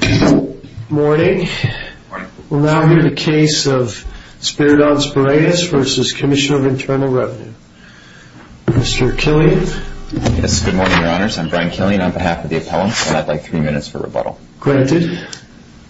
Good morning. We'll now hear the case of Spiridon Spireas v. Commissioner of Internal Revenue. Mr. Killian. Yes, good morning, Your Honors. I'm Brian Killian on behalf of the appellant, and I'd like three minutes for rebuttal. Granted.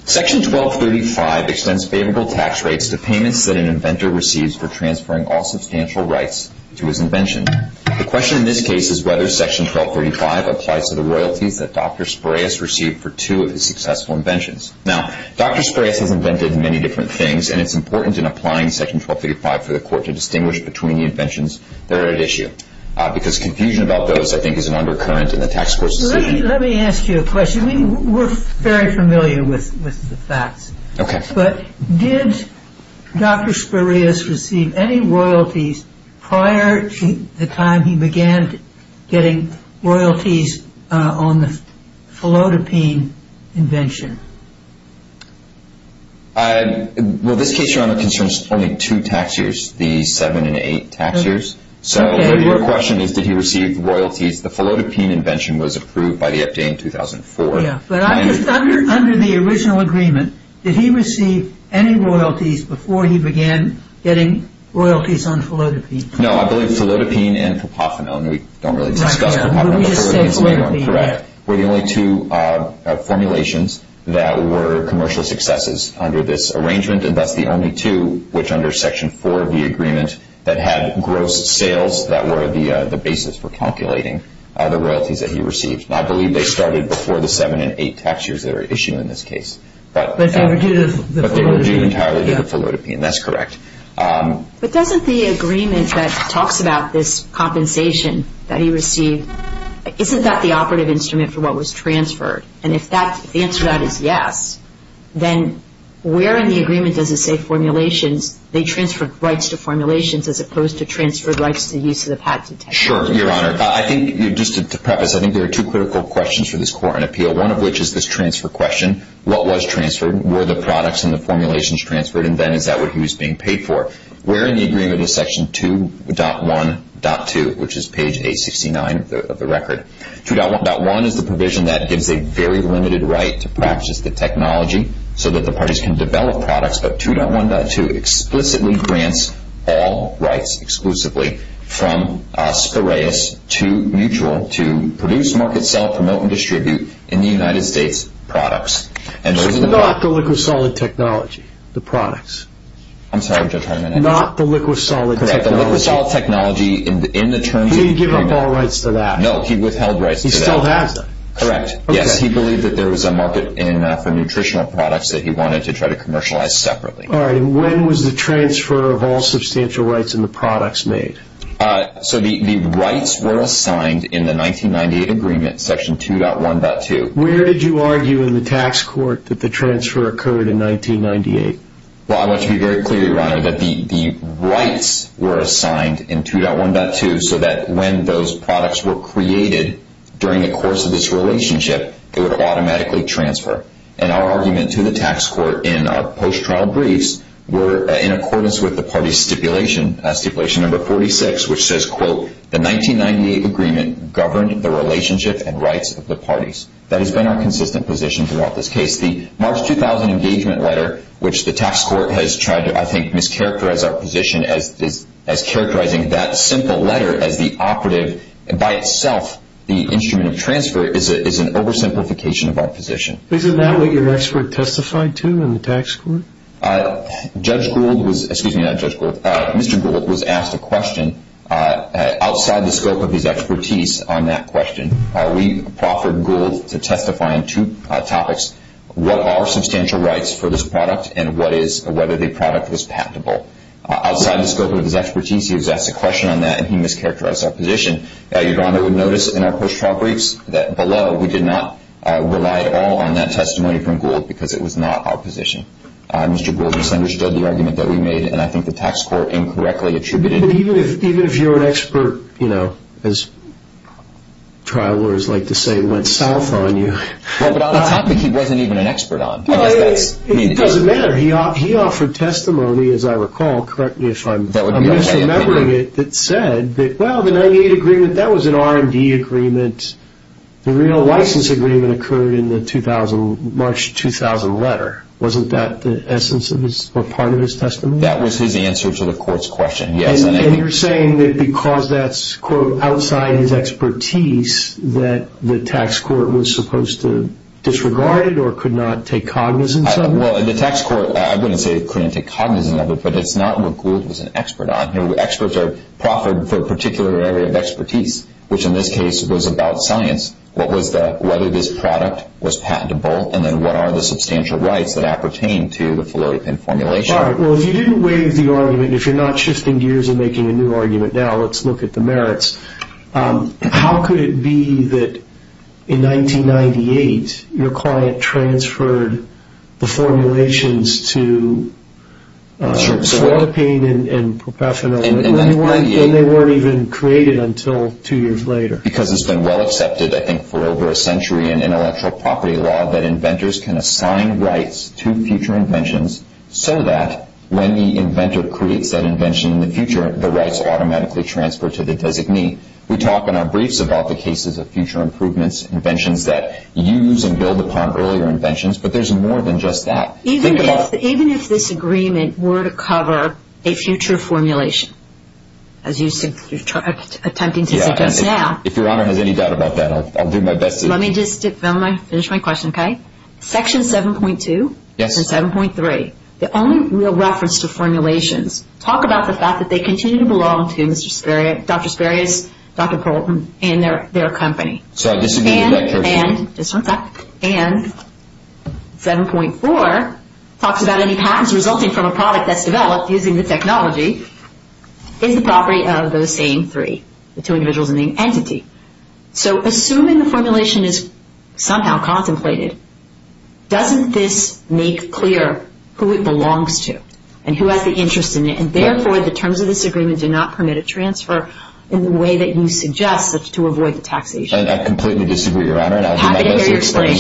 Section 1235 extends favorable tax rates to payments that an inventor receives for transferring all substantial rights to his invention. The question in this case is whether Section 1235 applies to the royalties that Dr. Spireas received for two of his successful inventions. Now, Dr. Spireas has invented many different things, and it's important in applying Section 1235 for the court to distinguish between the inventions that are at issue, because confusion about those, I think, is an undercurrent in the tax court's decision. Let me ask you a question. We're very familiar with the facts. Okay. But did Dr. Spireas receive any royalties prior to the time he began getting royalties on the Philodipine invention? Well, this case, Your Honor, concerns only two tax years, the seven and eight tax years. So your question is, did he receive royalties? The Philodipine invention was approved by the FDA in 2004. But under the original agreement, did he receive any royalties before he began getting royalties on Philodipine? No, I believe Philodipine and Papofanone, we don't really discuss Papofanone, but Philodipine and Philodipine, correct, were the only two formulations that were commercial successes under this arrangement, and that's the only two which under Section 4 of the agreement that had gross sales that were the basis for calculating the royalties that he received. And I believe they started before the seven and eight tax years that were issued in this case. But they were due to the Philodipine. But they were due entirely to the Philodipine. That's correct. But doesn't the agreement that talks about this compensation that he received, isn't that the operative instrument for what was transferred? And if the answer to that is yes, then where in the agreement does it say formulations? They transferred rights to formulations as opposed to transferred rights to use of the patent. Sure, Your Honor. I think just to preface, I think there are two critical questions for this court on appeal, one of which is this transfer question. What was transferred? Were the products in the formulations transferred, and then is that what he was being paid for? Where in the agreement is Section 2.1.2, which is page 869 of the record? 2.1.1 is the provision that gives a very limited right to practice the technology so that the parties can develop products, but 2.1.2 explicitly grants all rights exclusively from Spiraeus to Mutual to produce, market, sell, promote, and distribute in the United States products. So not the liquid solid technology, the products. I'm sorry, Judge Hartman. Not the liquid solid technology. The liquid solid technology in the terms of the agreement. He didn't give up all rights to that. No, he withheld rights to that. He still has them. Correct. Yes, he believed that there was a market for nutritional products that he wanted to try to commercialize separately. All right. And when was the transfer of all substantial rights in the products made? So the rights were assigned in the 1998 agreement, Section 2.1.2. Where did you argue in the tax court that the transfer occurred in 1998? Well, I want to be very clear, Your Honor, that the rights were assigned in 2.1.2 so that when those products were created during the course of this relationship, they would automatically transfer. And our argument to the tax court in our post-trial briefs were in accordance with the party stipulation, stipulation number 46, which says, quote, the 1998 agreement governed the relationship and rights of the parties. That has been our consistent position throughout this case. The March 2000 engagement letter, which the tax court has tried to, I think, characterize our position as characterizing that simple letter as the operative. By itself, the instrument of transfer is an oversimplification of our position. Isn't that what your expert testified to in the tax court? Judge Gould was, excuse me, not Judge Gould. Mr. Gould was asked a question outside the scope of his expertise on that question. We proffered Gould to testify on two topics, what are substantial rights for this product and whether the product was patentable. Outside the scope of his expertise, he was asked a question on that, and he mischaracterized our position. Your Honor would notice in our post-trial briefs that below, we did not rely at all on that testimony from Gould because it was not our position. Mr. Gould misunderstood the argument that we made, and I think the tax court incorrectly attributed it. Even if you're an expert, you know, as trial lawyers like to say, went south on you. But on a topic he wasn't even an expert on. It doesn't matter. He offered testimony, as I recall, correct me if I'm misremembering it, that said, well, the 98 agreement, that was an R&D agreement. The real license agreement occurred in the March 2000 letter. Wasn't that the essence or part of his testimony? That was his answer to the court's question, yes. And you're saying that because that's, quote, outside his expertise, that the tax court was supposed to disregard it or could not take cognizance of it? Well, the tax court, I wouldn't say it couldn't take cognizance of it, but it's not what Gould was an expert on. Experts are proffered for a particular area of expertise, which in this case was about science. What was the, whether this product was patentable, and then what are the substantial rights that appertain to the Floripin formulation? All right, well, if you didn't waive the argument, if you're not shifting gears and making a new argument now, let's look at the merits. How could it be that in 1998 your client transferred the formulations to Floripin and Propafanil, and they weren't even created until two years later? Because it's been well accepted, I think, for over a century in intellectual property law that inventors can assign rights to future inventions so that when the inventor creates that invention in the future, the rights automatically transfer to the designee. We talk in our briefs about the cases of future improvements, inventions that use and build upon earlier inventions, but there's more than just that. Even if this agreement were to cover a future formulation, as you're attempting to suggest now. If Your Honor has any doubt about that, I'll do my best to. Let me just finish my question, okay? Section 7.2 and 7.3, the only real reference to formulations, talk about the fact that they continue to belong to Dr. Sparius, Dr. Poulton, and their company. And 7.4 talks about any patents resulting from a product that's developed using this technology is the property of those same three, the two individuals and the entity. So assuming the formulation is somehow contemplated, doesn't this make clear who it belongs to and who has the interest in it? And therefore, the terms of this agreement do not permit a transfer in the way that you suggest to avoid the taxation. I completely disagree, Your Honor, and I'll do my best to explain.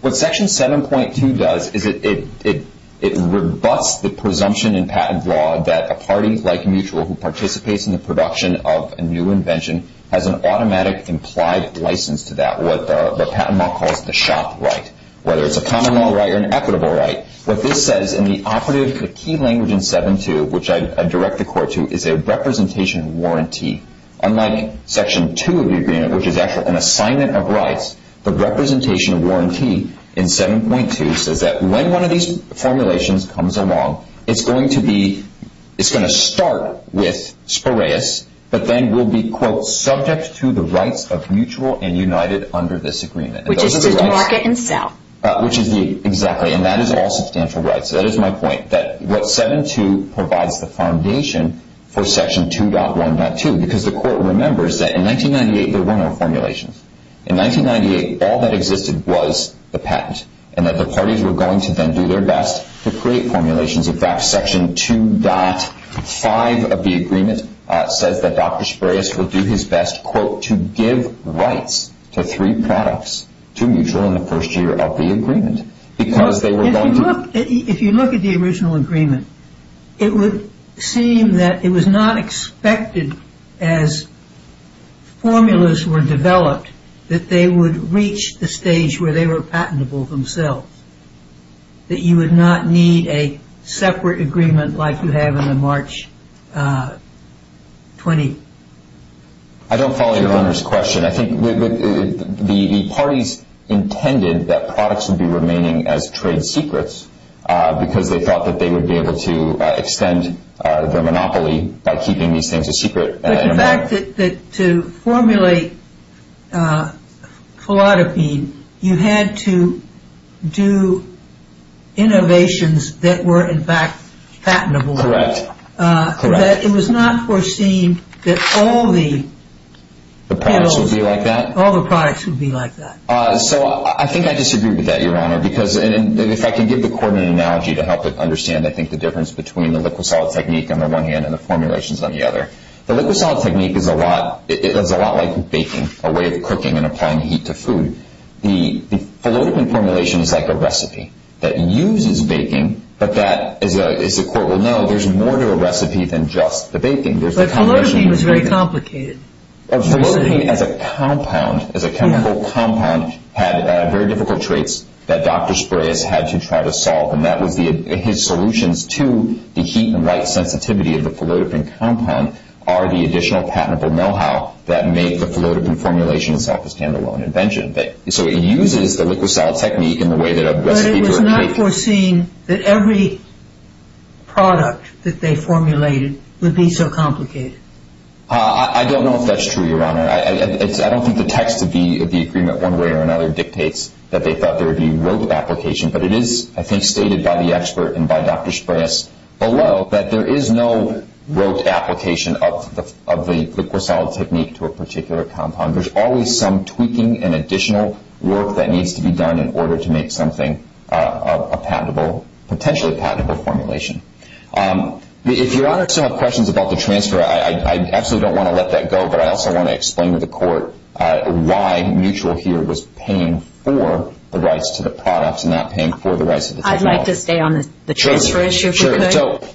What Section 7.2 does is it rebuts the presumption in patent law that a party like Mutual who participates in the production of a new invention has an automatic implied license to that, what patent law calls the shop right, whether it's a common law right or an equitable right. What this says in the operative key language in 7.2, which I direct the Court to, is a representation warranty. Unlike Section 2 of the agreement, which is actually an assignment of rights, the representation warranty in 7.2 says that when one of these formulations comes along, it's going to be, it's going to start with Spiraeus, but then will be, quote, subject to the rights of Mutual and United under this agreement. Which is to market and sell. Which is the, exactly, and that is all substantial rights. That is my point, that what 7.2 provides the foundation for Section 2.1.2, because the Court remembers that in 1998 there were no formulations. In 1998, all that existed was the patent, and that the parties were going to then do their best to create formulations. In fact, Section 2.5 of the agreement says that Dr. Spiraeus will do his best, quote, to give rights to three products to Mutual in the first year of the agreement. Because they were going to... If you look at the original agreement, it would seem that it was not expected as formulas were developed that they would reach the stage where they were patentable themselves. That you would not need a separate agreement like you have in the March 20. I don't follow your Honor's question. I think the parties intended that products would be remaining as trade secrets, because they thought that they would be able to extend the monopoly by keeping these things a secret. But the fact that to formulate Philodipine, you had to do innovations that were, in fact, patentable. Correct. That it was not foreseen that all the... The products would be like that? All the products would be like that. So I think I disagree with that, Your Honor, because if I can give the court an analogy to help it understand, I think, the difference between the liquid-solid technique on the one hand and the formulations on the other. The liquid-solid technique is a lot like baking, a way of cooking and applying heat to food. The Philodipine formulation is like a recipe that uses baking, but that, as the court will know, there's more to a recipe than just the baking. But Philodipine was very complicated. Philodipine as a compound, as a chemical compound, had very difficult traits that Dr. Sprayes had to try to solve, and that was his solutions to the heat and light sensitivity of the Philodipine compound are the additional patentable know-how that made the Philodipine formulation itself a stand-alone invention. So it uses the liquid-solid technique in a way that a recipe for a cake... But it was not foreseen that every product that they formulated would be so complicated. I don't know if that's true, Your Honor. I don't think the text of the agreement one way or another dictates that they thought there would be rote application, but it is, I think, stated by the expert and by Dr. Sprayes below that there is no rote application of the liquid-solid technique to a particular compound. There's always some tweaking and additional work that needs to be done in order to make something a potentially patentable formulation. If Your Honor still have questions about the transfer, I absolutely don't want to let that go, but I also want to explain to the court why Mutual here was paying for the rights to the products and not paying for the rights to the technology. I'd like to stay on the transfer issue, if we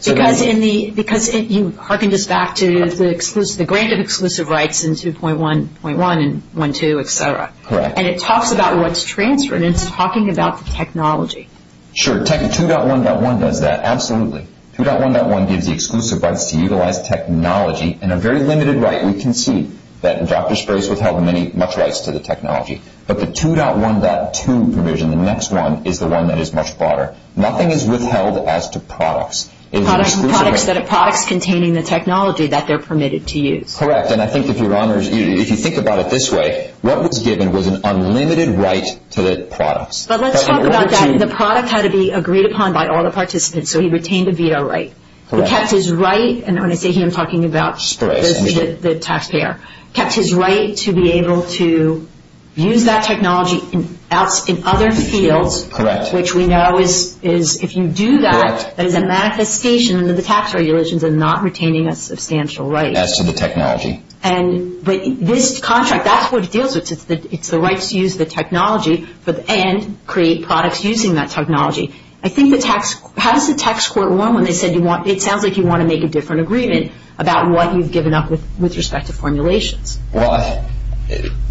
could. Because you hearkened us back to the grant of exclusive rights in 2.1.1 and 1.2, et cetera. Correct. And it talks about what's transferred, and it's talking about the technology. Sure. 2.1.1 does that, absolutely. 2.1.1 gives the exclusive rights to utilize technology and a very limited right. We can see that Dr. Sprayes withheld much rights to the technology, but the 2.1.2 provision, the next one, is the one that is much broader. Nothing is withheld as to products. Products containing the technology that they're permitted to use. Correct. And I think if Your Honor, if you think about it this way, what was given was an unlimited right to the products. But let's talk about that. The product had to be agreed upon by all the participants, so he retained a veto right. Correct. He kept his right, and when I say he, I'm talking about the taxpayer, kept his right to be able to use that technology in other fields. Correct. Which we know is, if you do that, that is a manifestation that the tax regulations are not retaining a substantial right. As to the technology. But this contract, that's what it deals with. It's the right to use the technology and create products using that technology. I think the tax, how does the tax court run when they said you want, it sounds like you want to make a different agreement about what you've given up with respect to formulations. Well,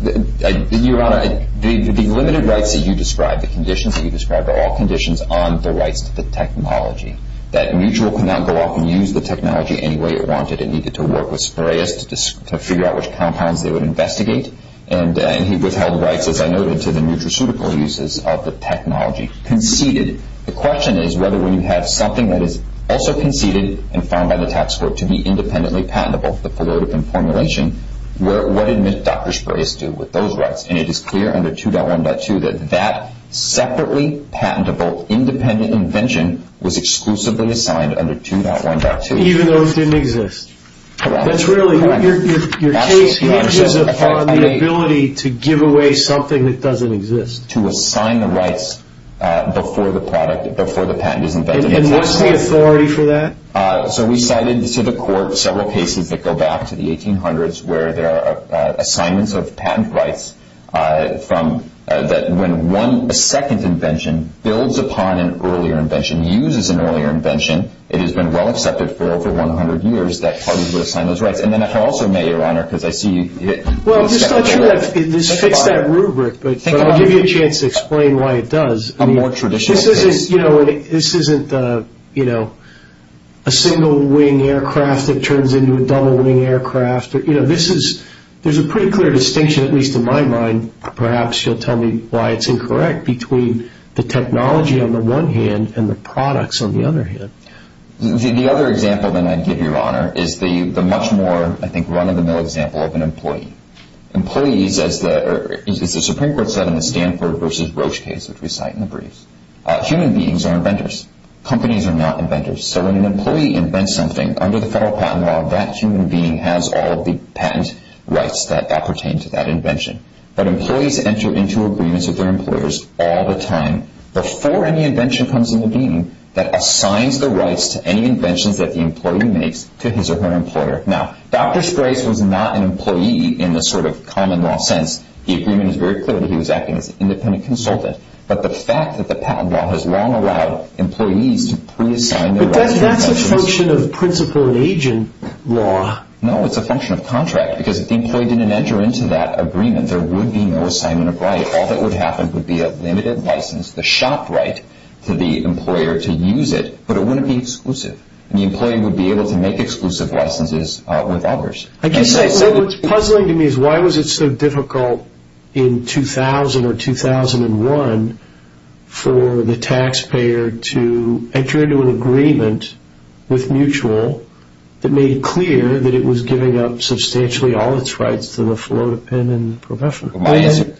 Your Honor, the limited rights that you described, the conditions that you described, are all conditions on the rights to the technology. That mutual could not go off and use the technology any way it wanted. It needed to work with sprayers to figure out which compounds they would investigate. And he withheld rights, as I noted, to the nutraceutical uses of the technology. Conceded. The question is whether when you have something that is also conceded and found by the tax court to be independently patentable, the formulation, what did Dr. Sprayers do with those rights? And it is clear under 2.1.2 that that separately patentable independent invention was exclusively assigned under 2.1.2. Even though it didn't exist. That's really, your case hinges upon the ability to give away something that doesn't exist. to assign the rights before the patent is invented. And what's the authority for that? So we cited to the court several cases that go back to the 1800s where there are assignments of patent rights that when a second invention builds upon an earlier invention, uses an earlier invention, it has been well accepted for over 100 years that parties would assign those rights. And then if I also may, Your Honor, because I see you... Well, I'm just not sure that this fits that rubric, but I'll give you a chance to explain why it does. A more traditional case. This isn't a single wing aircraft that turns into a double wing aircraft. There's a pretty clear distinction, at least in my mind, perhaps you'll tell me why it's incorrect, between the technology on the one hand and the products on the other hand. The other example that I'd give, Your Honor, is the much more run-of-the-mill example of an employee. Employees, as the Supreme Court said in the Stanford v. Roche case, which we cite in the briefs, human beings are inventors. Companies are not inventors. So when an employee invents something under the federal patent law, that human being has all the patent rights that pertain to that invention. But employees enter into agreements with their employers all the time before any invention comes into being that assigns the rights to any inventions that the employee makes to his or her employer. Now, Dr. Sprace was not an employee in the sort of common law sense. The agreement is very clear that he was acting as an independent consultant. But the fact that the patent law has long allowed employees to pre-assign their rights... But that's a function of principal and agent law. No, it's a function of contract, because if the employee didn't enter into that agreement, there would be no assignment of rights. All that would happen would be a limited license, the shop right to the employer to use it, but it wouldn't be exclusive, and the employee would be able to make exclusive licenses with others. I guess what's puzzling to me is why was it so difficult in 2000 or 2001 for the taxpayer to enter into an agreement with Mutual that made it clear that it was giving up substantially all its rights to the philodependent professional? My answer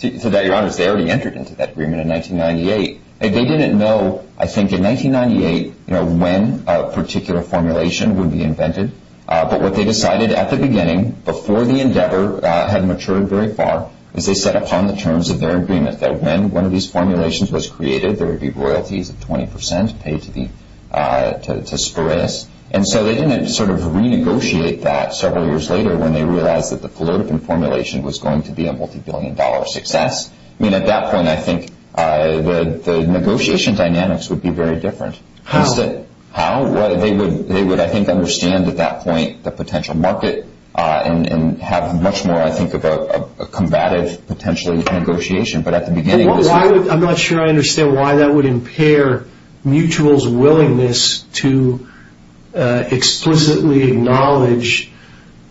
to that, Your Honor, is they already entered into that agreement in 1998. They didn't know, I think, in 1998, you know, when a particular formulation would be invented. But what they decided at the beginning, before the endeavor had matured very far, is they set upon the terms of their agreement, that when one of these formulations was created, there would be royalties of 20 percent paid to Sprace. And so they didn't sort of renegotiate that several years later when they realized that the philodendent formulation was going to be a multibillion-dollar success. I mean, at that point, I think the negotiation dynamics would be very different. How? How? They would, I think, understand at that point the potential market and have much more, I think, of a combative, potentially, negotiation. But at the beginning, it was not. I'm not sure I understand why that would impair Mutual's willingness to explicitly acknowledge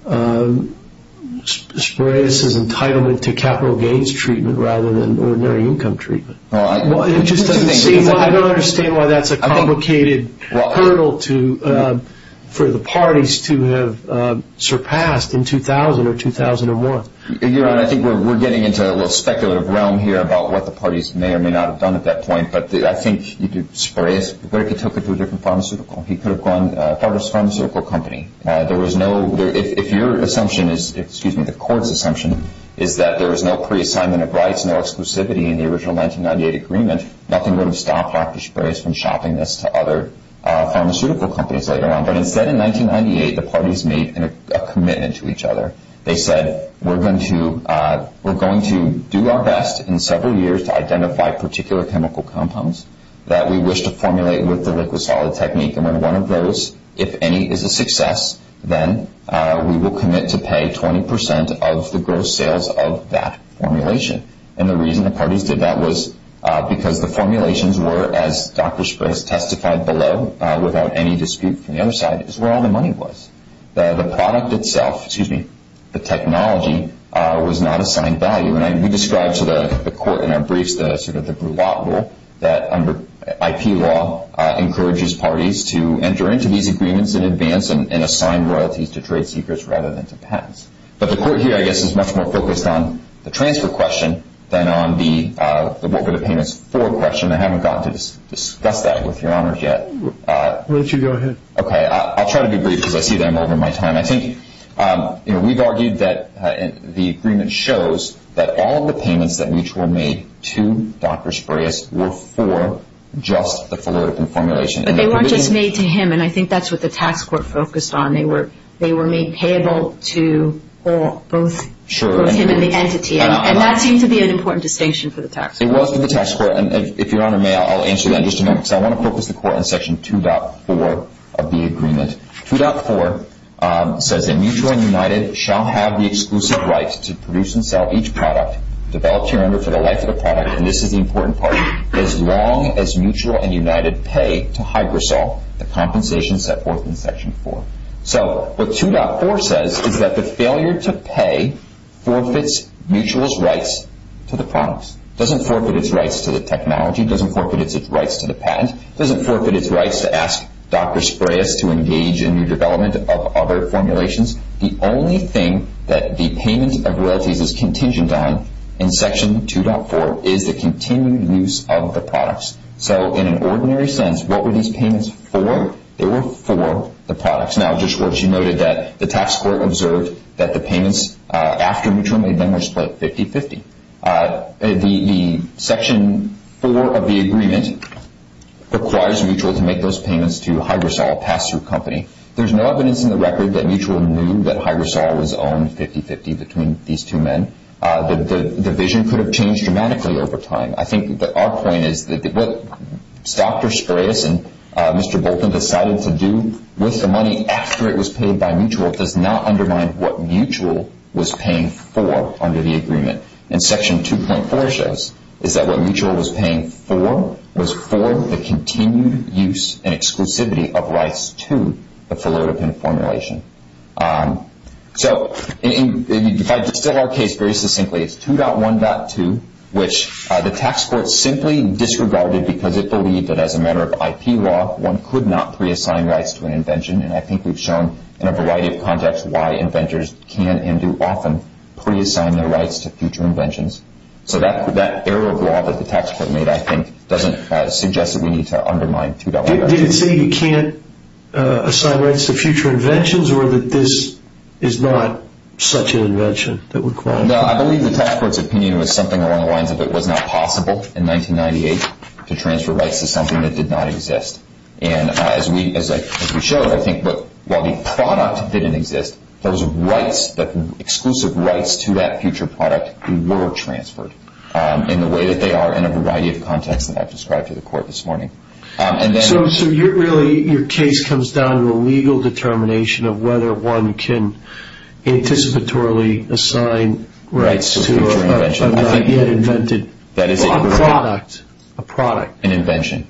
Sprace's entitlement to capital gains treatment rather than ordinary income treatment. It just doesn't seem, I don't understand why that's a complicated hurdle for the parties to have surpassed in 2000 or 2001. Your Honor, I think we're getting into a little speculative realm here about what the parties may or may not have done at that point. But I think Sprace took it to a different pharmaceutical. He could have gone to a pharmaceutical company. If your assumption is, excuse me, the court's assumption, is that there was no pre-assignment of rights, no exclusivity in the original 1998 agreement, nothing would have stopped Dr. Sprace from shopping this to other pharmaceutical companies later on. But instead, in 1998, the parties made a commitment to each other. They said, we're going to do our best in several years to identify particular chemical compounds that we wish to formulate with the liquid-solid technique. And when one of those, if any, is a success, then we will commit to pay 20% of the gross sales of that formulation. And the reason the parties did that was because the formulations were, as Dr. Sprace testified below without any dispute from the other side, is where all the money was. The product itself, excuse me, the technology, was not assigned value. And we described to the court in our briefs the sort of the Brulotte Rule that under IP law encourages parties to enter into these agreements in advance and assign royalties to trade secrets rather than to patents. But the court here, I guess, is much more focused on the transfer question than on the what were the payments for question. I haven't gotten to discuss that with Your Honors yet. Why don't you go ahead. Okay. I'll try to be brief because I see that I'm over my time. I think we've argued that the agreement shows that all of the payments that each were made to Dr. Sprace were for just the fullerton formulation. But they weren't just made to him. And I think that's what the tax court focused on. They were made payable to both him and the entity. And that seemed to be an important distinction for the tax court. It was for the tax court. And if Your Honor may, I'll answer that in just a moment because I want to focus the court on Section 2.4 of the agreement. 2.4 says that Mutual and United shall have the exclusive right to produce and sell each product developed here under for the life of the product. And this is the important part. As long as Mutual and United pay to Hygrosol, the compensation set forth in Section 4. So what 2.4 says is that the failure to pay forfeits Mutual's rights to the products. It doesn't forfeit its rights to the technology. It doesn't forfeit its rights to the patent. It doesn't forfeit its rights to ask Dr. Sprace to engage in the development of other formulations. The only thing that the payment of royalties is contingent on in Section 2.4 is the continued use of the products. So in an ordinary sense, what were these payments for? They were for the products. Now, Judge Schwartz, you noted that the tax court observed that the payments after Mutual made them were split 50-50. The Section 4 of the agreement requires Mutual to make those payments to Hygrosol, a pass-through company. There's no evidence in the record that Mutual knew that Hygrosol was owned 50-50 between these two men. The vision could have changed dramatically over time. I think that our point is that what Dr. Sprace and Mr. Bolton decided to do with the money after it was paid by Mutual does not undermine what Mutual was paying for under the agreement. And Section 2.4 shows is that what Mutual was paying for was for the continued use and exclusivity of rights to the Philodepin formulation. So if I distill our case very succinctly, it's 2.1.2, which the tax court simply disregarded because it believed that as a matter of IP law, one could not pre-assign rights to an invention. And I think we've shown in a variety of contexts why inventors can and do often pre-assign their rights to future inventions. So that error of law that the tax court made, I think, doesn't suggest that we need to undermine 2.1.2. Did it say you can't assign rights to future inventions or that this is not such an invention that would qualify? No, I believe the tax court's opinion was something along the lines of it was not possible in 1998 to transfer rights to something that did not exist. And as we showed, I think that while the product didn't exist, those exclusive rights to that future product were transferred in the way that they are in a variety of contexts that I've described to the court this morning. So really your case comes down to a legal determination of whether one can anticipatorily assign rights to a not yet invented product. An invention.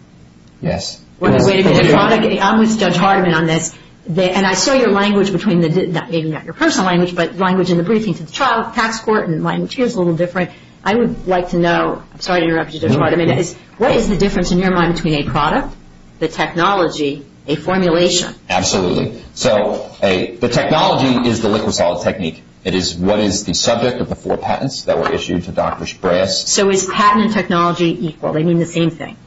Yes. Wait a minute. I'm with Judge Hardiman on this. And I saw your language between the, maybe not your personal language, but language in the briefing to the tax court and mine, which is a little different. I would like to know, sorry to interrupt you, Judge Hardiman, what is the difference in your mind between a product, the technology, a formulation? Absolutely. So the technology is the liquid-solid technique. It is what is the subject of the four patents that were issued to Dr. Shabraus. So is patent and technology equal? They mean the same thing?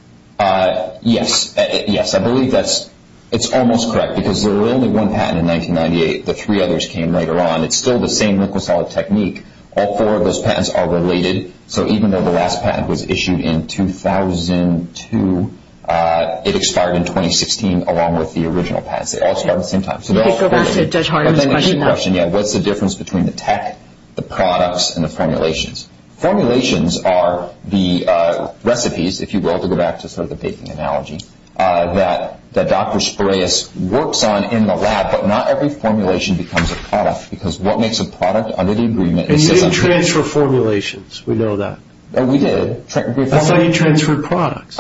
Yes. Yes, I believe that's almost correct because there was only one patent in 1998. The three others came later on. It's still the same liquid-solid technique. All four of those patents are related. So even though the last patent was issued in 2002, it expired in 2016 along with the original patents. They all expired at the same time. Judge Hardiman's question now. What's the difference between the tech, the products, and the formulations? Formulations are the recipes, if you will, to go back to sort of the baking analogy, that Dr. Shabraus works on in the lab, but not every formulation becomes a product because what makes a product under the agreement is just a product. We didn't transfer formulations. We know that. Oh, we did. That's how you transfer products.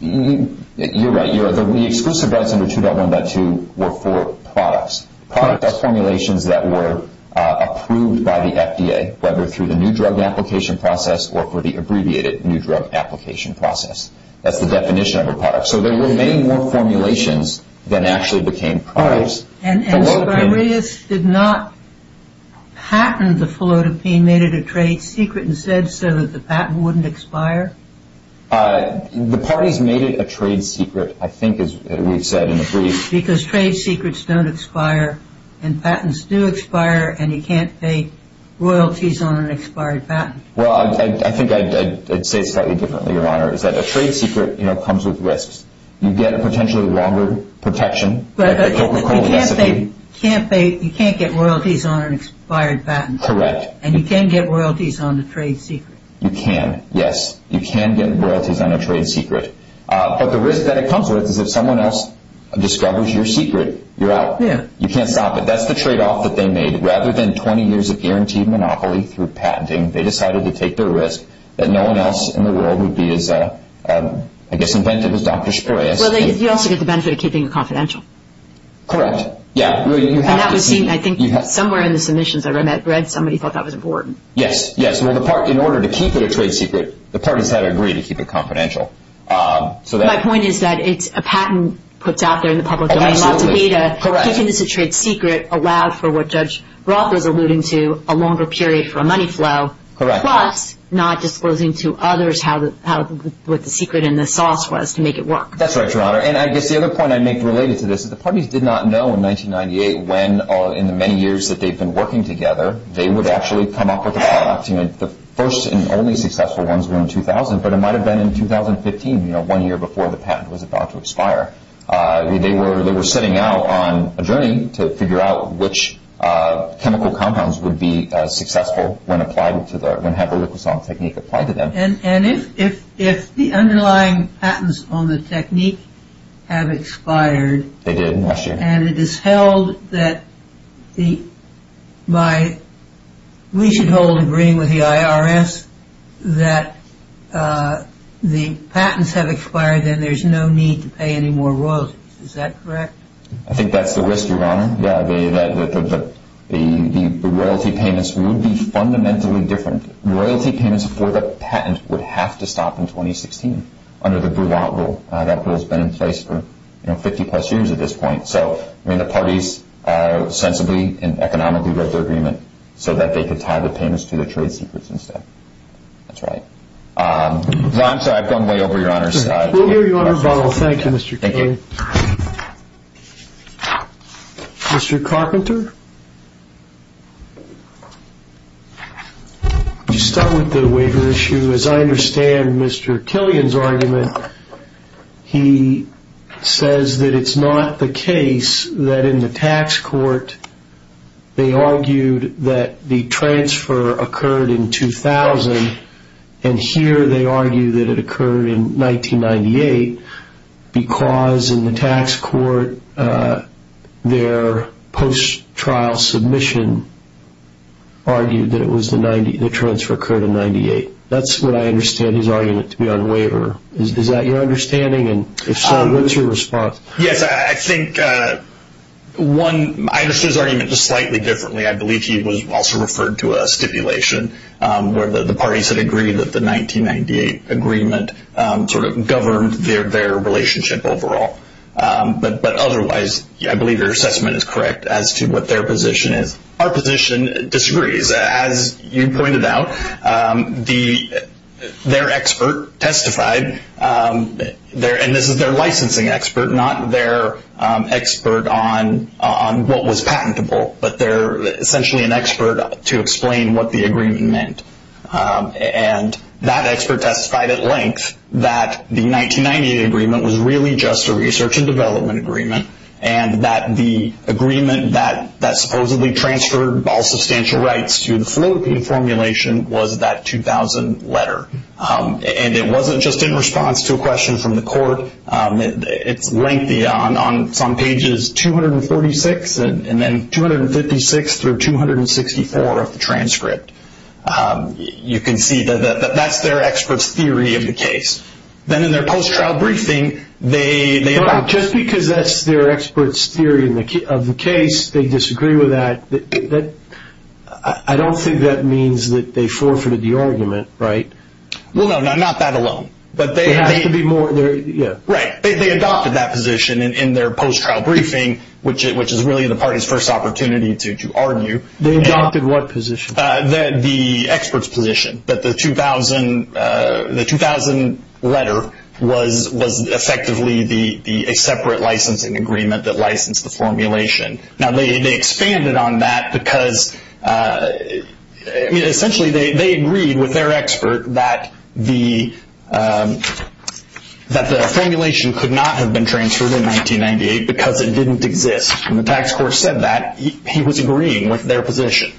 You're right. The exclusive rights under 2.1.2 were for products. Products are formulations that were approved by the FDA, whether through the new drug application process or for the abbreviated new drug application process. That's the definition of a product. So there were many more formulations than actually became products. And Spiridus did not patent the felodipine, made it a trade secret, and said so that the patent wouldn't expire? The parties made it a trade secret, I think, as we've said in the brief. Because trade secrets don't expire, and patents do expire, and you can't pay royalties on an expired patent. Well, I think I'd say it slightly differently, Your Honor, is that a trade secret comes with risks. You get a potentially longer protection. But you can't get royalties on an expired patent. Correct. And you can get royalties on a trade secret. You can, yes. You can get royalties on a trade secret. But the risk that it comes with is if someone else discovers your secret, you're out. You can't stop it. That's the tradeoff that they made. Rather than 20 years of guaranteed monopoly through patenting, they decided to take the risk that no one else in the world would be as, I guess, inventive as Dr. Spiridus. Well, you also get the benefit of keeping it confidential. Correct. Yeah. And that was seen, I think, somewhere in the submissions I read somebody thought that was important. Yes, yes. Well, in order to keep it a trade secret, the parties had to agree to keep it confidential. My point is that it's a patent put out there in the public domain, lots of data. Correct. Keeping this a trade secret allowed for what Judge Roth was alluding to, a longer period for a money flow. Correct. Plus not disclosing to others what the secret and the sauce was to make it work. That's right, Your Honor. And I guess the other point I make related to this is the parties did not know in 1998 when, in the many years that they've been working together, they would actually come up with a product. The first and only successful ones were in 2000, but it might have been in 2015, one year before the patent was about to expire. They were setting out on a journey to figure out which chemical compounds would be successful when applied to the, when half-a-liquosol technique applied to them. And if the underlying patents on the technique have expired. They did last year. And it is held that by, we should hold agreeing with the IRS that the patents have expired and there's no need to pay any more royalties. Is that correct? I think that's the risk, Your Honor. Yeah, the royalty payments would be fundamentally different. Royalty payments for the patent would have to stop in 2016 under the Burlant rule. That rule has been in place for 50 plus years at this point. So, I mean, the parties sensibly and economically wrote their agreement so that they could tie the payments to their trade secrets instead. That's right. I'm sorry, I've gone way over Your Honor's time. We'll hear Your Honor follow. Thank you, Mr. King. Thank you. Mr. Carpenter? Could you start with the waiver issue? As I understand Mr. Killian's argument, he says that it's not the case that in the tax court they argued that the transfer occurred in 2000, and here they argue that it occurred in 1998 because in the tax court their post-trial submission argued that the transfer occurred in 1998. That's what I understand his argument to be on waiver. Is that your understanding? And if so, what's your response? Yes, I think, one, I understand his argument just slightly differently. I believe he was also referred to a stipulation where the parties had agreed that the 1998 agreement sort of governed their relationship overall. But otherwise, I believe your assessment is correct as to what their position is. Our position disagrees. As you pointed out, their expert testified, and this is their licensing expert, not their expert on what was patentable, but they're essentially an expert to explain what the agreement meant. And that expert testified at length that the 1998 agreement was really just a research and development agreement and that the agreement that supposedly transferred all substantial rights to the Philippine formulation was that 2000 letter. And it wasn't just in response to a question from the court. It's lengthy. It's on pages 246 and then 256 through 264 of the transcript. You can see that that's their expert's theory of the case. Then in their post-trial briefing, they- Just because that's their expert's theory of the case, they disagree with that, I don't think that means that they forfeited the argument, right? Well, no, not that alone. There has to be more. Right. They adopted that position in their post-trial briefing, which is really the party's first opportunity to argue. They adopted what position? The expert's position that the 2000 letter was effectively a separate licensing agreement that licensed the formulation. Now, they expanded on that because essentially they agreed with their expert that the formulation could not have been transferred in 1998 because it didn't exist. When the tax court said that, he was agreeing with their position.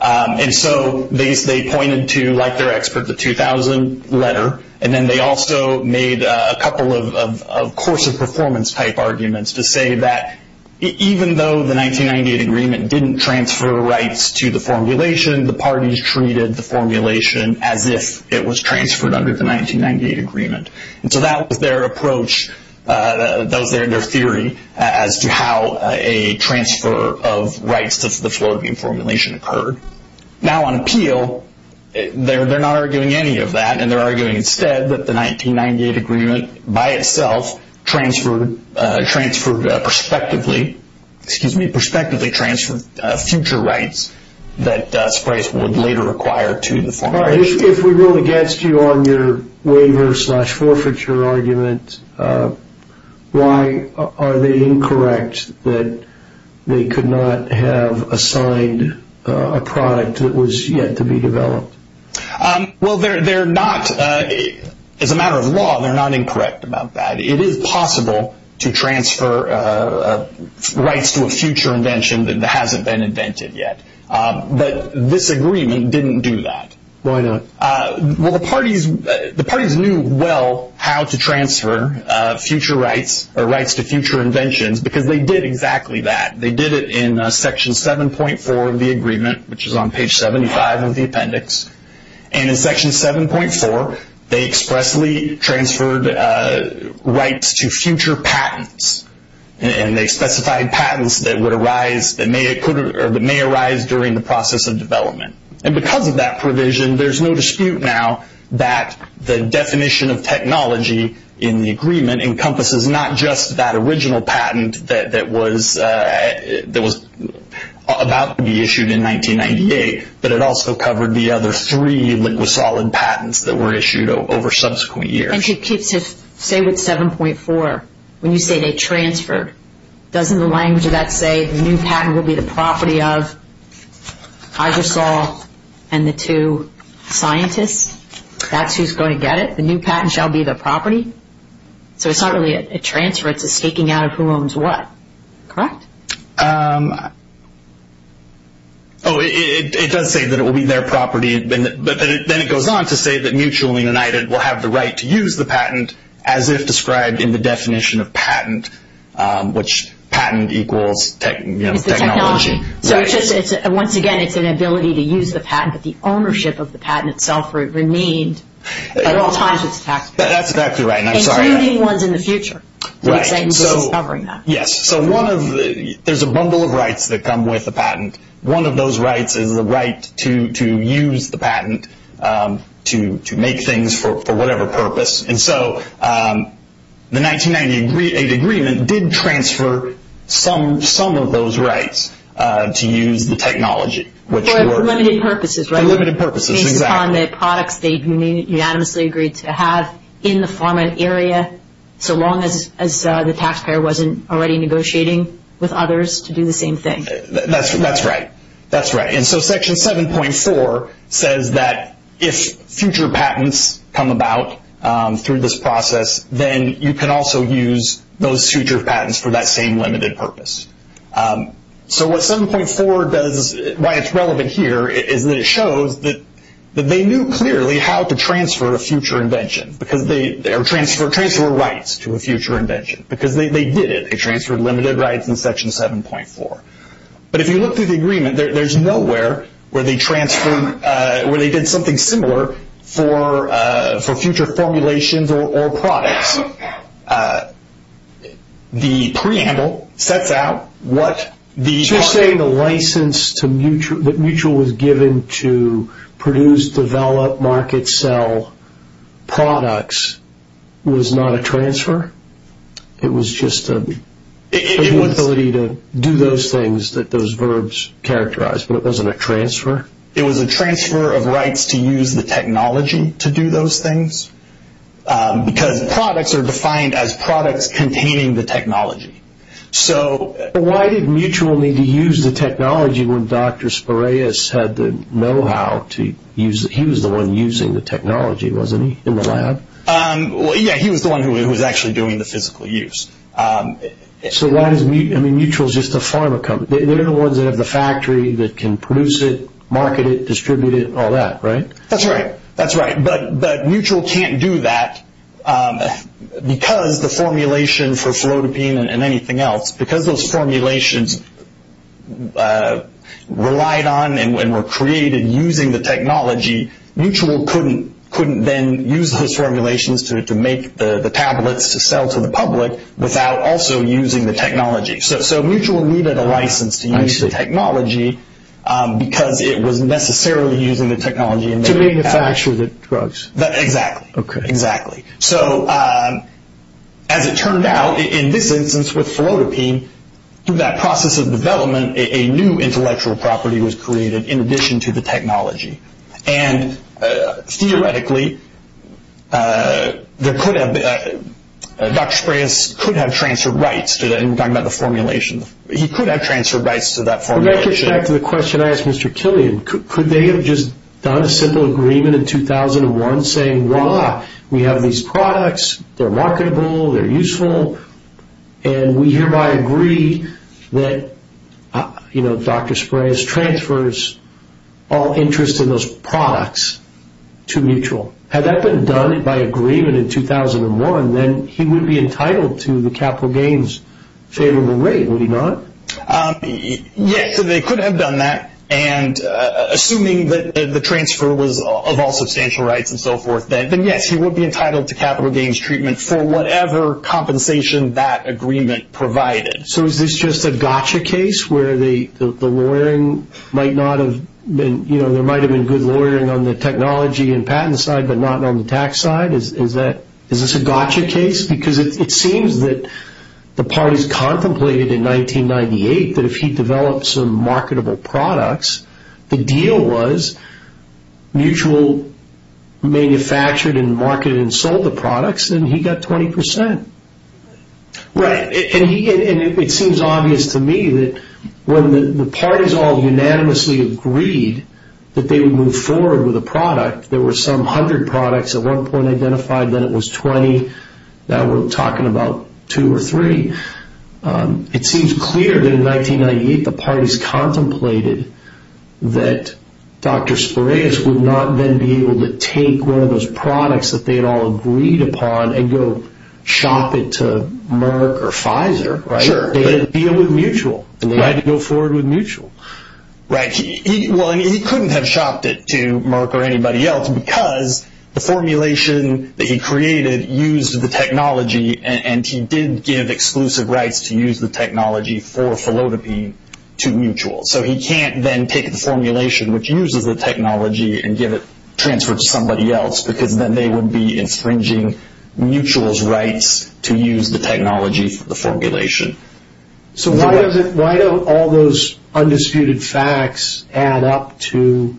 And so they pointed to, like their expert, the 2000 letter. And then they also made a couple of course of performance type arguments to say that even though the 1998 agreement didn't transfer rights to the formulation, the parties treated the formulation as if it was transferred under the 1998 agreement. And so that was their approach. That was their theory as to how a transfer of rights to the Floridabene formulation occurred. Now, on appeal, they're not arguing any of that, and they're arguing instead that the 1998 agreement by itself transferred prospectively future rights that Spryce would later require to the formulation. If we rule against you on your waiver slash forfeiture argument, why are they incorrect that they could not have assigned a product that was yet to be developed? Well, they're not. As a matter of law, they're not incorrect about that. It is possible to transfer rights to a future invention that hasn't been invented yet. But this agreement didn't do that. Why not? Well, the parties knew well how to transfer future rights or rights to future inventions because they did exactly that. They did it in Section 7.4 of the agreement, which is on page 75 of the appendix. And in Section 7.4, they expressly transferred rights to future patents, and they specified patents that may arise during the process of development. And because of that provision, there's no dispute now that the definition of technology in the agreement encompasses not just that original patent that was about to be issued in 1998, but it also covered the other three liquid solid patents that were issued over subsequent years. And it keeps it, say, with 7.4, when you say they transferred, doesn't the language of that say the new patent will be the property of Iversol and the two scientists? That's who's going to get it? The new patent shall be their property? So it's not really a transfer. It's a staking out of who owns what, correct? Oh, it does say that it will be their property, but then it goes on to say that mutually united will have the right to use the patent, as if described in the definition of patent, which patent equals technology. It's the technology. So once again, it's an ability to use the patent, but the ownership of the patent itself remained at all times with taxpayers. That's exactly right, and I'm sorry. Including ones in the future. Right. We're covering that. Yes. So there's a bundle of rights that come with a patent. One of those rights is the right to use the patent to make things for whatever purpose, and so the 1998 agreement did transfer some of those rights to use the technology. For limited purposes, right? For limited purposes, exactly. Based upon the products they unanimously agreed to have in the format area, so long as the taxpayer wasn't already negotiating with others to do the same thing. That's right. That's right. And so Section 7.4 says that if future patents come about through this process, then you can also use those future patents for that same limited purpose. So what 7.4 does, why it's relevant here, is that it shows that they knew clearly how to transfer a future invention, or transfer rights to a future invention, because they did it. They transferred limited rights in Section 7.4. But if you look through the agreement, there's nowhere where they transferred, where they did something similar for future formulations or products. The preamble sets out what the… So you're saying the license that Mutual was given to produce, develop, market, sell products was not a transfer? It was just an ability to do those things that those verbs characterized, but it wasn't a transfer? It was a transfer of rights to use the technology to do those things, because products are defined as products containing the technology. So why did Mutual need to use the technology when Dr. Spiraeus had the know-how to use it? He was the one using the technology, wasn't he, in the lab? Yeah, he was the one who was actually doing the physical use. So why does Mutual… Mutual is just a pharma company. They're the ones that have the factory, that can produce it, market it, distribute it, all that, right? That's right. That's right. But Mutual can't do that because the formulation for flotapine and anything else. Because those formulations relied on and were created using the technology, Mutual couldn't then use those formulations to make the tablets to sell to the public without also using the technology. So Mutual needed a license to use the technology because it was necessarily using the technology. To manufacture the drugs. Exactly. Exactly. So as it turned out, in this instance with flotapine, through that process of development, and theoretically, Dr. Spiraeus could have transferred rights. I'm talking about the formulation. He could have transferred rights to that formulation. That gets back to the question I asked Mr. Killian. Could they have just done a simple agreement in 2001 saying, We have these products, they're marketable, they're useful, and we hereby agree that Dr. Spiraeus transfers all interest in those products to Mutual. Had that been done by agreement in 2001, then he would be entitled to the capital gains favorable rate, would he not? Yes, they could have done that. Assuming that the transfer was of all substantial rights and so forth, then yes, he would be entitled to capital gains treatment for whatever compensation that agreement provided. So is this just a gotcha case where there might have been good lawyering on the technology and patent side, but not on the tax side? Is this a gotcha case? Because it seems that the parties contemplated in 1998 that if he developed some marketable products, the deal was Mutual manufactured and marketed and sold the products, then he got 20%. Right. It seems obvious to me that when the parties all unanimously agreed that they would move forward with a product, there were some 100 products at one point identified, then it was 20, now we're talking about 2 or 3. It seems clear that in 1998 the parties contemplated that Dr. Spiraeus would not then be able to take one of those products that they had all agreed upon and go shop it to Merck or Pfizer, right? Sure. They had a deal with Mutual, and they had to go forward with Mutual. Right. He couldn't have shopped it to Merck or anybody else because the formulation that he created used the technology, and he did give exclusive rights to use the technology for Philodipine to Mutual. So he can't then take the formulation which uses the technology and give it, transfer it to somebody else, because then they would be infringing Mutual's rights to use the technology for the formulation. So why don't all those undisputed facts add up to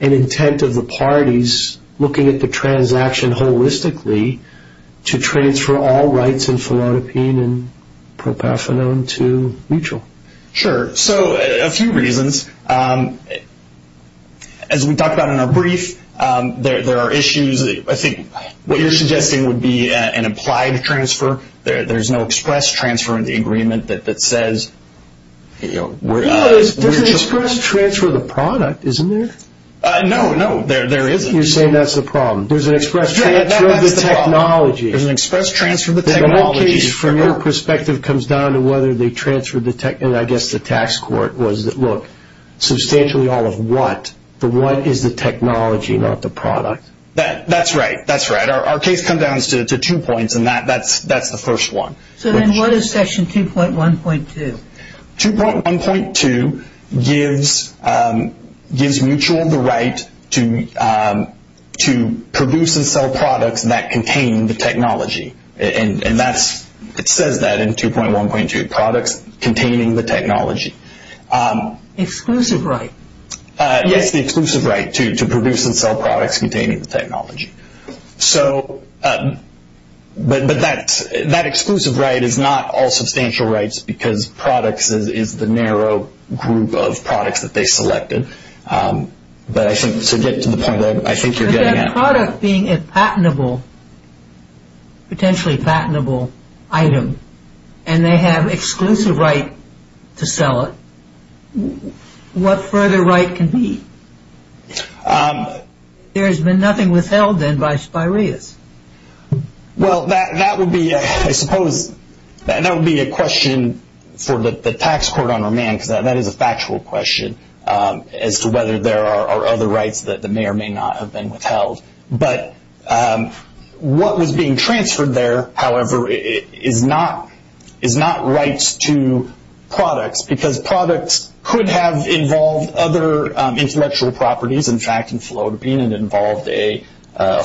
an intent of the parties looking at the transaction holistically to transfer all rights in Philodipine and Propafenone to Mutual? Sure. So a few reasons. As we talked about in our brief, there are issues. I think what you're suggesting would be an implied transfer. There's no express transfer in the agreement that says, you know, we're just – Well, there's an express transfer of the product, isn't there? No, no, there isn't. You're saying that's the problem. There's an express transfer of the technology. There's an express transfer of the technology. The case, from your perspective, comes down to whether they transferred the – and I guess the tax court was that, look, substantially all of what? The what is the technology, not the product? That's right. That's right. Our case comes down to two points, and that's the first one. So then what is Section 2.1.2? 2.1.2 gives Mutual the right to produce and sell products that contain the technology, and it says that in 2.1.2, products containing the technology. Exclusive right. Yes, the exclusive right to produce and sell products containing the technology. So – but that exclusive right is not all substantial rights because products is the narrow group of products that they selected. But I think to get to the point, I think you're getting at – But a product being a patentable, potentially patentable item, and they have exclusive right to sell it, what further right can be? There has been nothing withheld then by Spireas. Well, that would be, I suppose, that would be a question for the tax court on remand because that is a factual question as to whether there are other rights that may or may not have been withheld. But what was being transferred there, however, is not rights to products because products could have involved other intellectual properties. In fact, in Philodipine, it involved a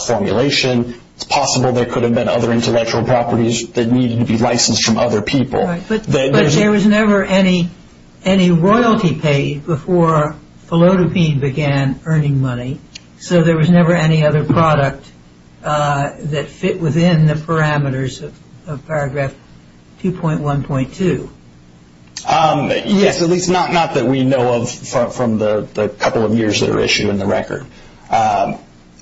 formulation. It's possible there could have been other intellectual properties that needed to be licensed from other people. But there was never any royalty paid before Philodipine began earning money, so there was never any other product that fit within the parameters of Paragraph 2.1.2. Yes, at least not that we know of from the couple of years that are issued in the record.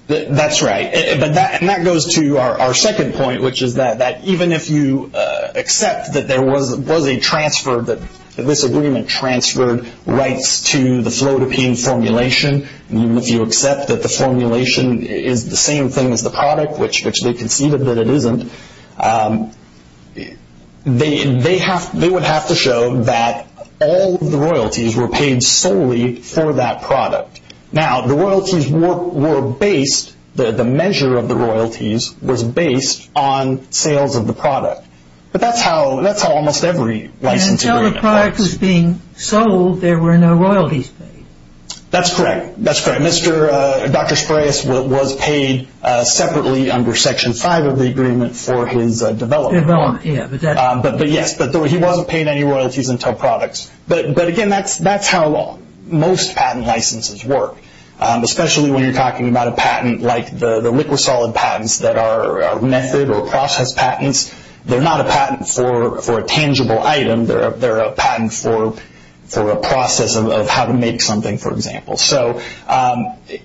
That's right. And that goes to our second point, which is that even if you accept that there was a transfer, that this agreement transferred rights to the Philodipine formulation, even if you accept that the formulation is the same thing as the product, which they conceded that it isn't, they would have to show that all of the royalties were paid solely for that product. Now, the royalties were based, the measure of the royalties was based on sales of the product. But that's how almost every license agreement works. And until the product was being sold, there were no royalties paid. That's correct. That's correct. Dr. Sprayus was paid separately under Section 5 of the agreement for his development. Yes, but he wasn't paid any royalties until products. But, again, that's how most patent licenses work, especially when you're talking about a patent like the liquid-solid patents that are method or process patents. They're not a patent for a tangible item. They're a patent for a process of how to make something, for example. So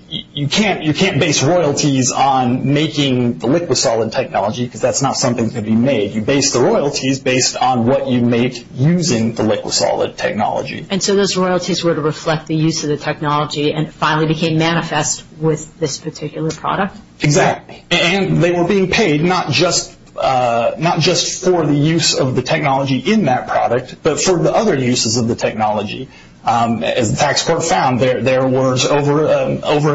you can't base royalties on making the liquid-solid technology because that's not something that can be made. You base the royalties based on what you make using the liquid-solid technology. And so those royalties were to reflect the use of the technology and finally became manifest with this particular product? Exactly. And they were being paid not just for the use of the technology in that product, but for the other uses of the technology. As the tax court found, there was over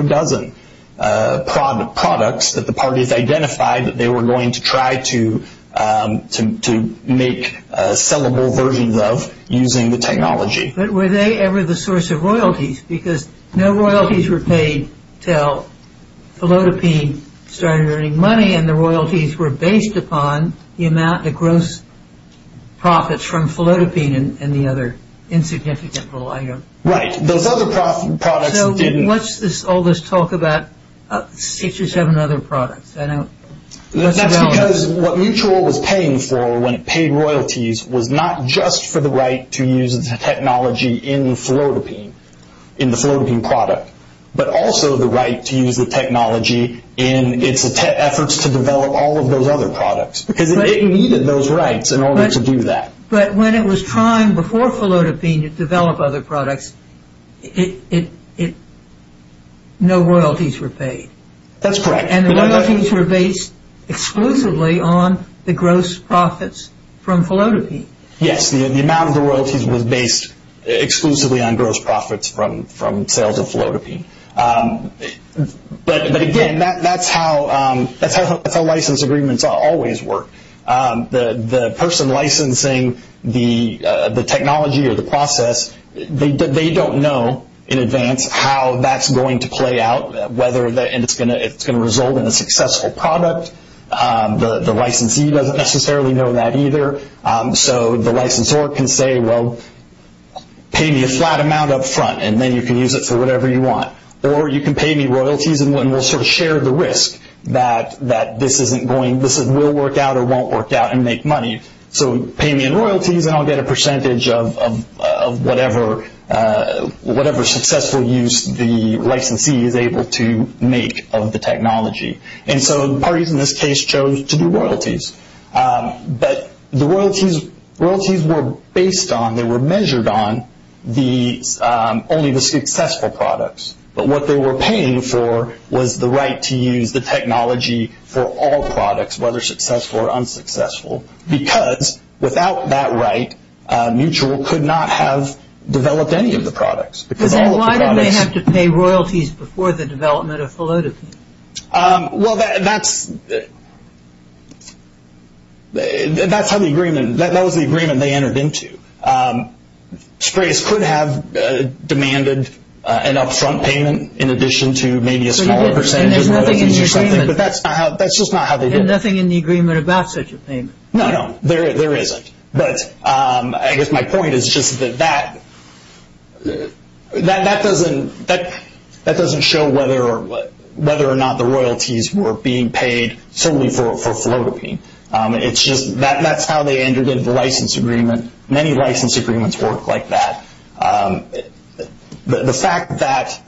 a dozen products that the parties identified that they were going to try to make sellable versions of using the technology. But were they ever the source of royalties? Because no royalties were paid until Philodipine started earning money, and the royalties were based upon the gross profits from Philodipine and the other insignificant little item. Right. Those other products didn't... So what's all this talk about six or seven other products? That's because what Mutual was paying for when it paid royalties was not just for the right to use the technology in Philodipine, in the Philodipine product, but also the right to use the technology in its efforts to develop all of those other products because it needed those rights in order to do that. But when it was trying before Philodipine to develop other products, no royalties were paid. That's correct. And the royalties were based exclusively on the gross profits from Philodipine. Yes, the amount of the royalties was based exclusively on gross profits from sales of Philodipine. But again, that's how license agreements always work. The person licensing the technology or the process, they don't know in advance how that's going to play out and it's going to result in a successful product. The licensee doesn't necessarily know that either. So the licensor can say, well, pay me a flat amount up front and then you can use it for whatever you want. Or you can pay me royalties and we'll sort of share the risk that this will work out or won't work out and make money. So pay me in royalties and I'll get a percentage of whatever successful use the licensee is able to make of the technology. And so the parties in this case chose to do royalties. But the royalties were based on, they were measured on only the successful products. But what they were paying for was the right to use the technology for all products, whether successful or unsuccessful, because without that right, Mutual could not have developed any of the products. Then why did they have to pay royalties before the development of Philodipine? Well, that's how the agreement, that was the agreement they entered into. Sprays could have demanded an up front payment in addition to maybe a smaller percentage. But that's just not how they did it. And nothing in the agreement about such a payment. No, no, there isn't. But I guess my point is just that that doesn't show whether or not the royalties were being paid solely for Philodipine. It's just that's how they entered into the license agreement. Many license agreements work like that. The fact that,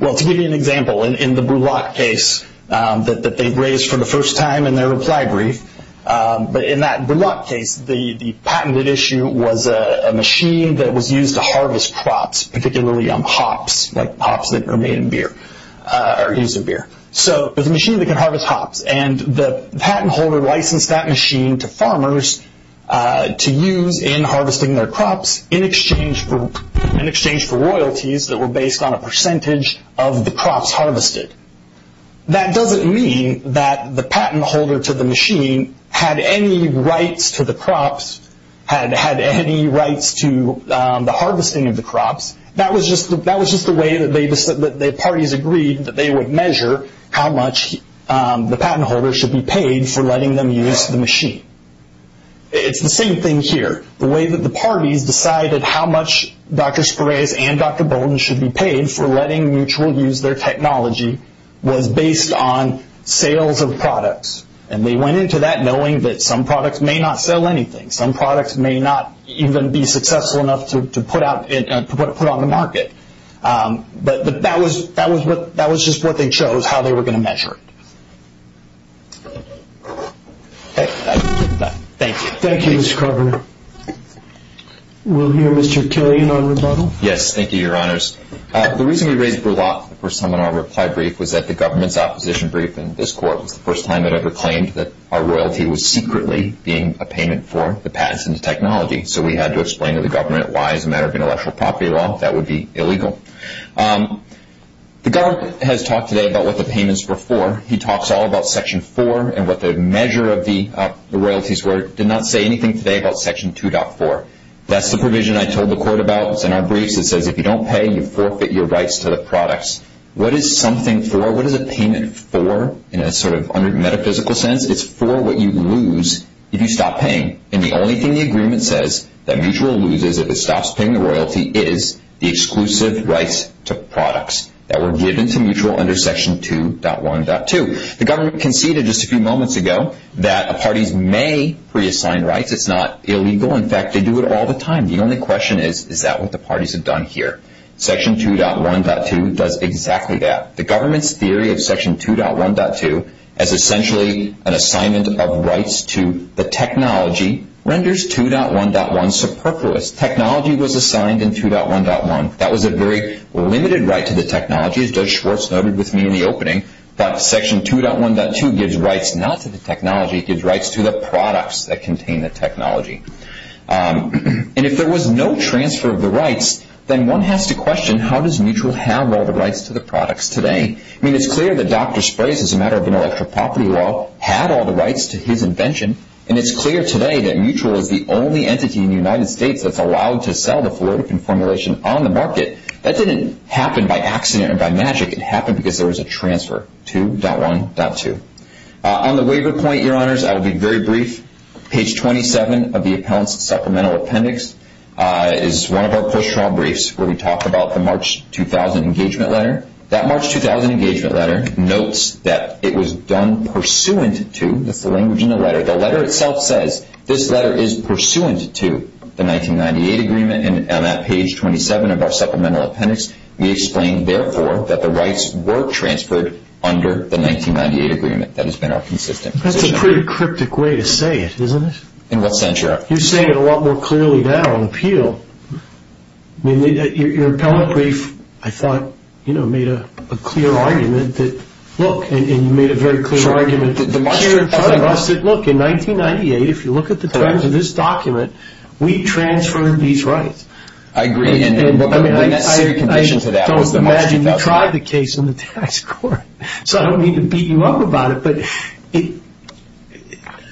well, to give you an example, in the Bullock case that they raised for the first time in their reply brief, but in that Bullock case, the patented issue was a machine that was used to harvest crops, particularly hops, like hops that are made in beer or used in beer. So it was a machine that could harvest hops. And the patent holder licensed that machine to farmers to use in harvesting their crops in exchange for royalties that were based on a percentage of the crops harvested. That doesn't mean that the patent holder to the machine had any rights to the crops, had any rights to the harvesting of the crops. That was just the way that the parties agreed that they would measure how much the patent holder should be paid for letting them use the machine. It's the same thing here. The way that the parties decided how much Dr. Spirez and Dr. Bolden should be paid for letting Mutual use their technology was based on sales of products. And they went into that knowing that some products may not sell anything. Some products may not even be successful enough to put on the market. But that was just what they chose, how they were going to measure it. Thank you. Thank you, Mr. Carver. We'll hear Mr. Killian on rebuttal. Yes, thank you, Your Honors. The reason we raised Bullock the first time in our reply brief was that the government's opposition brief in this court was the first time it ever claimed that our royalty was secretly being a payment for the patents and the technology. So we had to explain to the government why, as a matter of intellectual property law, that would be illegal. The government has talked today about what the payments were for. He talks all about Section 4 and what the measure of the royalties were. He did not say anything today about Section 2.4. That's the provision I told the court about. It's in our briefs. It says if you don't pay, you forfeit your rights to the products. What is something for? What is a payment for in a sort of metaphysical sense? It's for what you lose if you stop paying. And the only thing the agreement says that Mutual loses if it stops paying the royalty is the exclusive rights to products that were given to Mutual under Section 2.1.2. The government conceded just a few moments ago that parties may reassign rights. It's not illegal. In fact, they do it all the time. The only question is, is that what the parties have done here? Section 2.1.2 does exactly that. The government's theory of Section 2.1.2 as essentially an assignment of rights to the technology renders 2.1.1 superfluous. Technology was assigned in 2.1.1. That was a very limited right to the technology, as Judge Schwartz noted with me in the opening. But Section 2.1.2 gives rights not to the technology. It gives rights to the products that contain the technology. And if there was no transfer of the rights, then one has to question, how does Mutual have all the rights to the products today? I mean, it's clear that Dr. Sprays, as a matter of intellectual property law, had all the rights to his invention. And it's clear today that Mutual is the only entity in the United States that's allowed to sell the Floridacon formulation on the market. That didn't happen by accident or by magic. It happened because there was a transfer to 2.1.2. On the waiver point, Your Honors, I will be very brief. Page 27 of the Appellant's Supplemental Appendix is one of our post-trial briefs where we talk about the March 2000 engagement letter. That March 2000 engagement letter notes that it was done pursuant to, that's the language in the letter, the letter itself says this letter is pursuant to the 1998 agreement. And on that page 27 of our Supplemental Appendix, we explain, therefore, that the rights were transferred under the 1998 agreement. That has been our consistent position. That's a pretty cryptic way to say it, isn't it? In what sense, Your Honor? You're saying it a lot more clearly now on appeal. I mean, your appellate brief, I thought, you know, made a clear argument that, look, and you made a very clear argument here in front of us that, look, in 1998, if you look at the terms of this document, we transferred these rights. I agree. I mean, I don't imagine you tried the case in the tax court, so I don't mean to beat you up about it, but,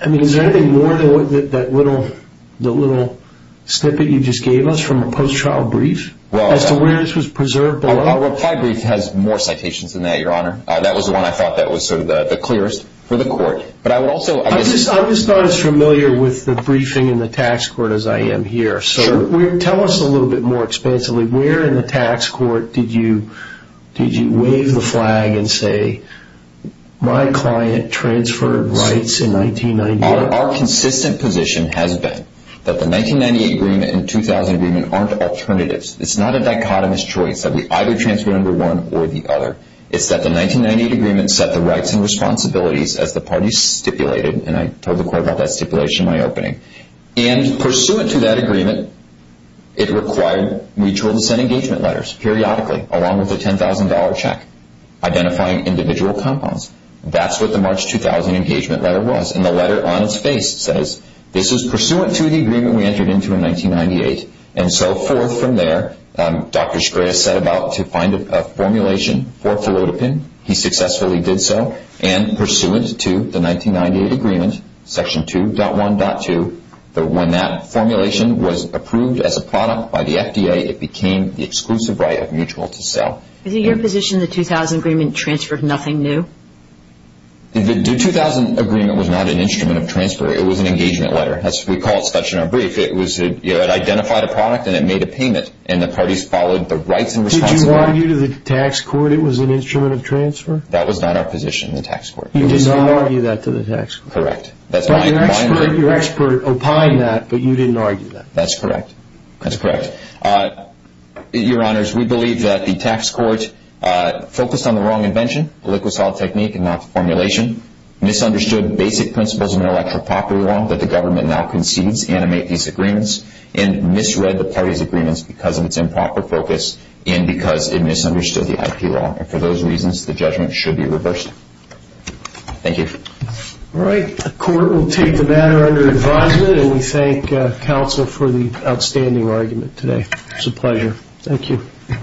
I mean, is there anything more than that little snippet you just gave us from a post-trial brief as to where this was preserved below? Our applied brief has more citations than that, Your Honor. That was the one I thought that was sort of the clearest for the court. I'm just not as familiar with the briefing in the tax court as I am here. Tell us a little bit more expansively. Where in the tax court did you wave the flag and say, my client transferred rights in 1998? Our consistent position has been that the 1998 agreement and the 2000 agreement aren't alternatives. It's not a dichotomous choice that we either transfer under one or the other. It's that the 1998 agreement set the rights and responsibilities as the parties stipulated, and I told the court about that stipulation in my opening. And pursuant to that agreement, it required mutual dissent engagement letters, periodically, along with a $10,000 check, identifying individual compounds. That's what the March 2000 engagement letter was. And the letter on its face says, this is pursuant to the agreement we entered into in 1998. And so forth from there, Dr. Shkreis set about to find a formulation for felodipine. He successfully did so. And pursuant to the 1998 agreement, Section 2.1.2, when that formulation was approved as a product by the FDA, it became the exclusive right of mutual to sell. Is it your position the 2000 agreement transferred nothing new? The 2000 agreement was not an instrument of transfer. It was an engagement letter. We call it such in our brief. It identified a product, and it made a payment, and the parties followed the rights and responsibilities. Did you argue to the tax court it was an instrument of transfer? That was not our position in the tax court. You did not argue that to the tax court. Correct. But your expert opined that, but you didn't argue that. That's correct. That's correct. Your Honors, we believe that the tax court focused on the wrong invention, the liquid-solid technique, and not the formulation, misunderstood basic principles of intellectual property law that the government now concedes animate these agreements, and misread the parties' agreements because of its improper focus and because it misunderstood the IP law. And for those reasons, the judgment should be reversed. Thank you. All right. The court will take the matter under advisement, and we thank counsel for the outstanding argument today. It was a pleasure. Thank you.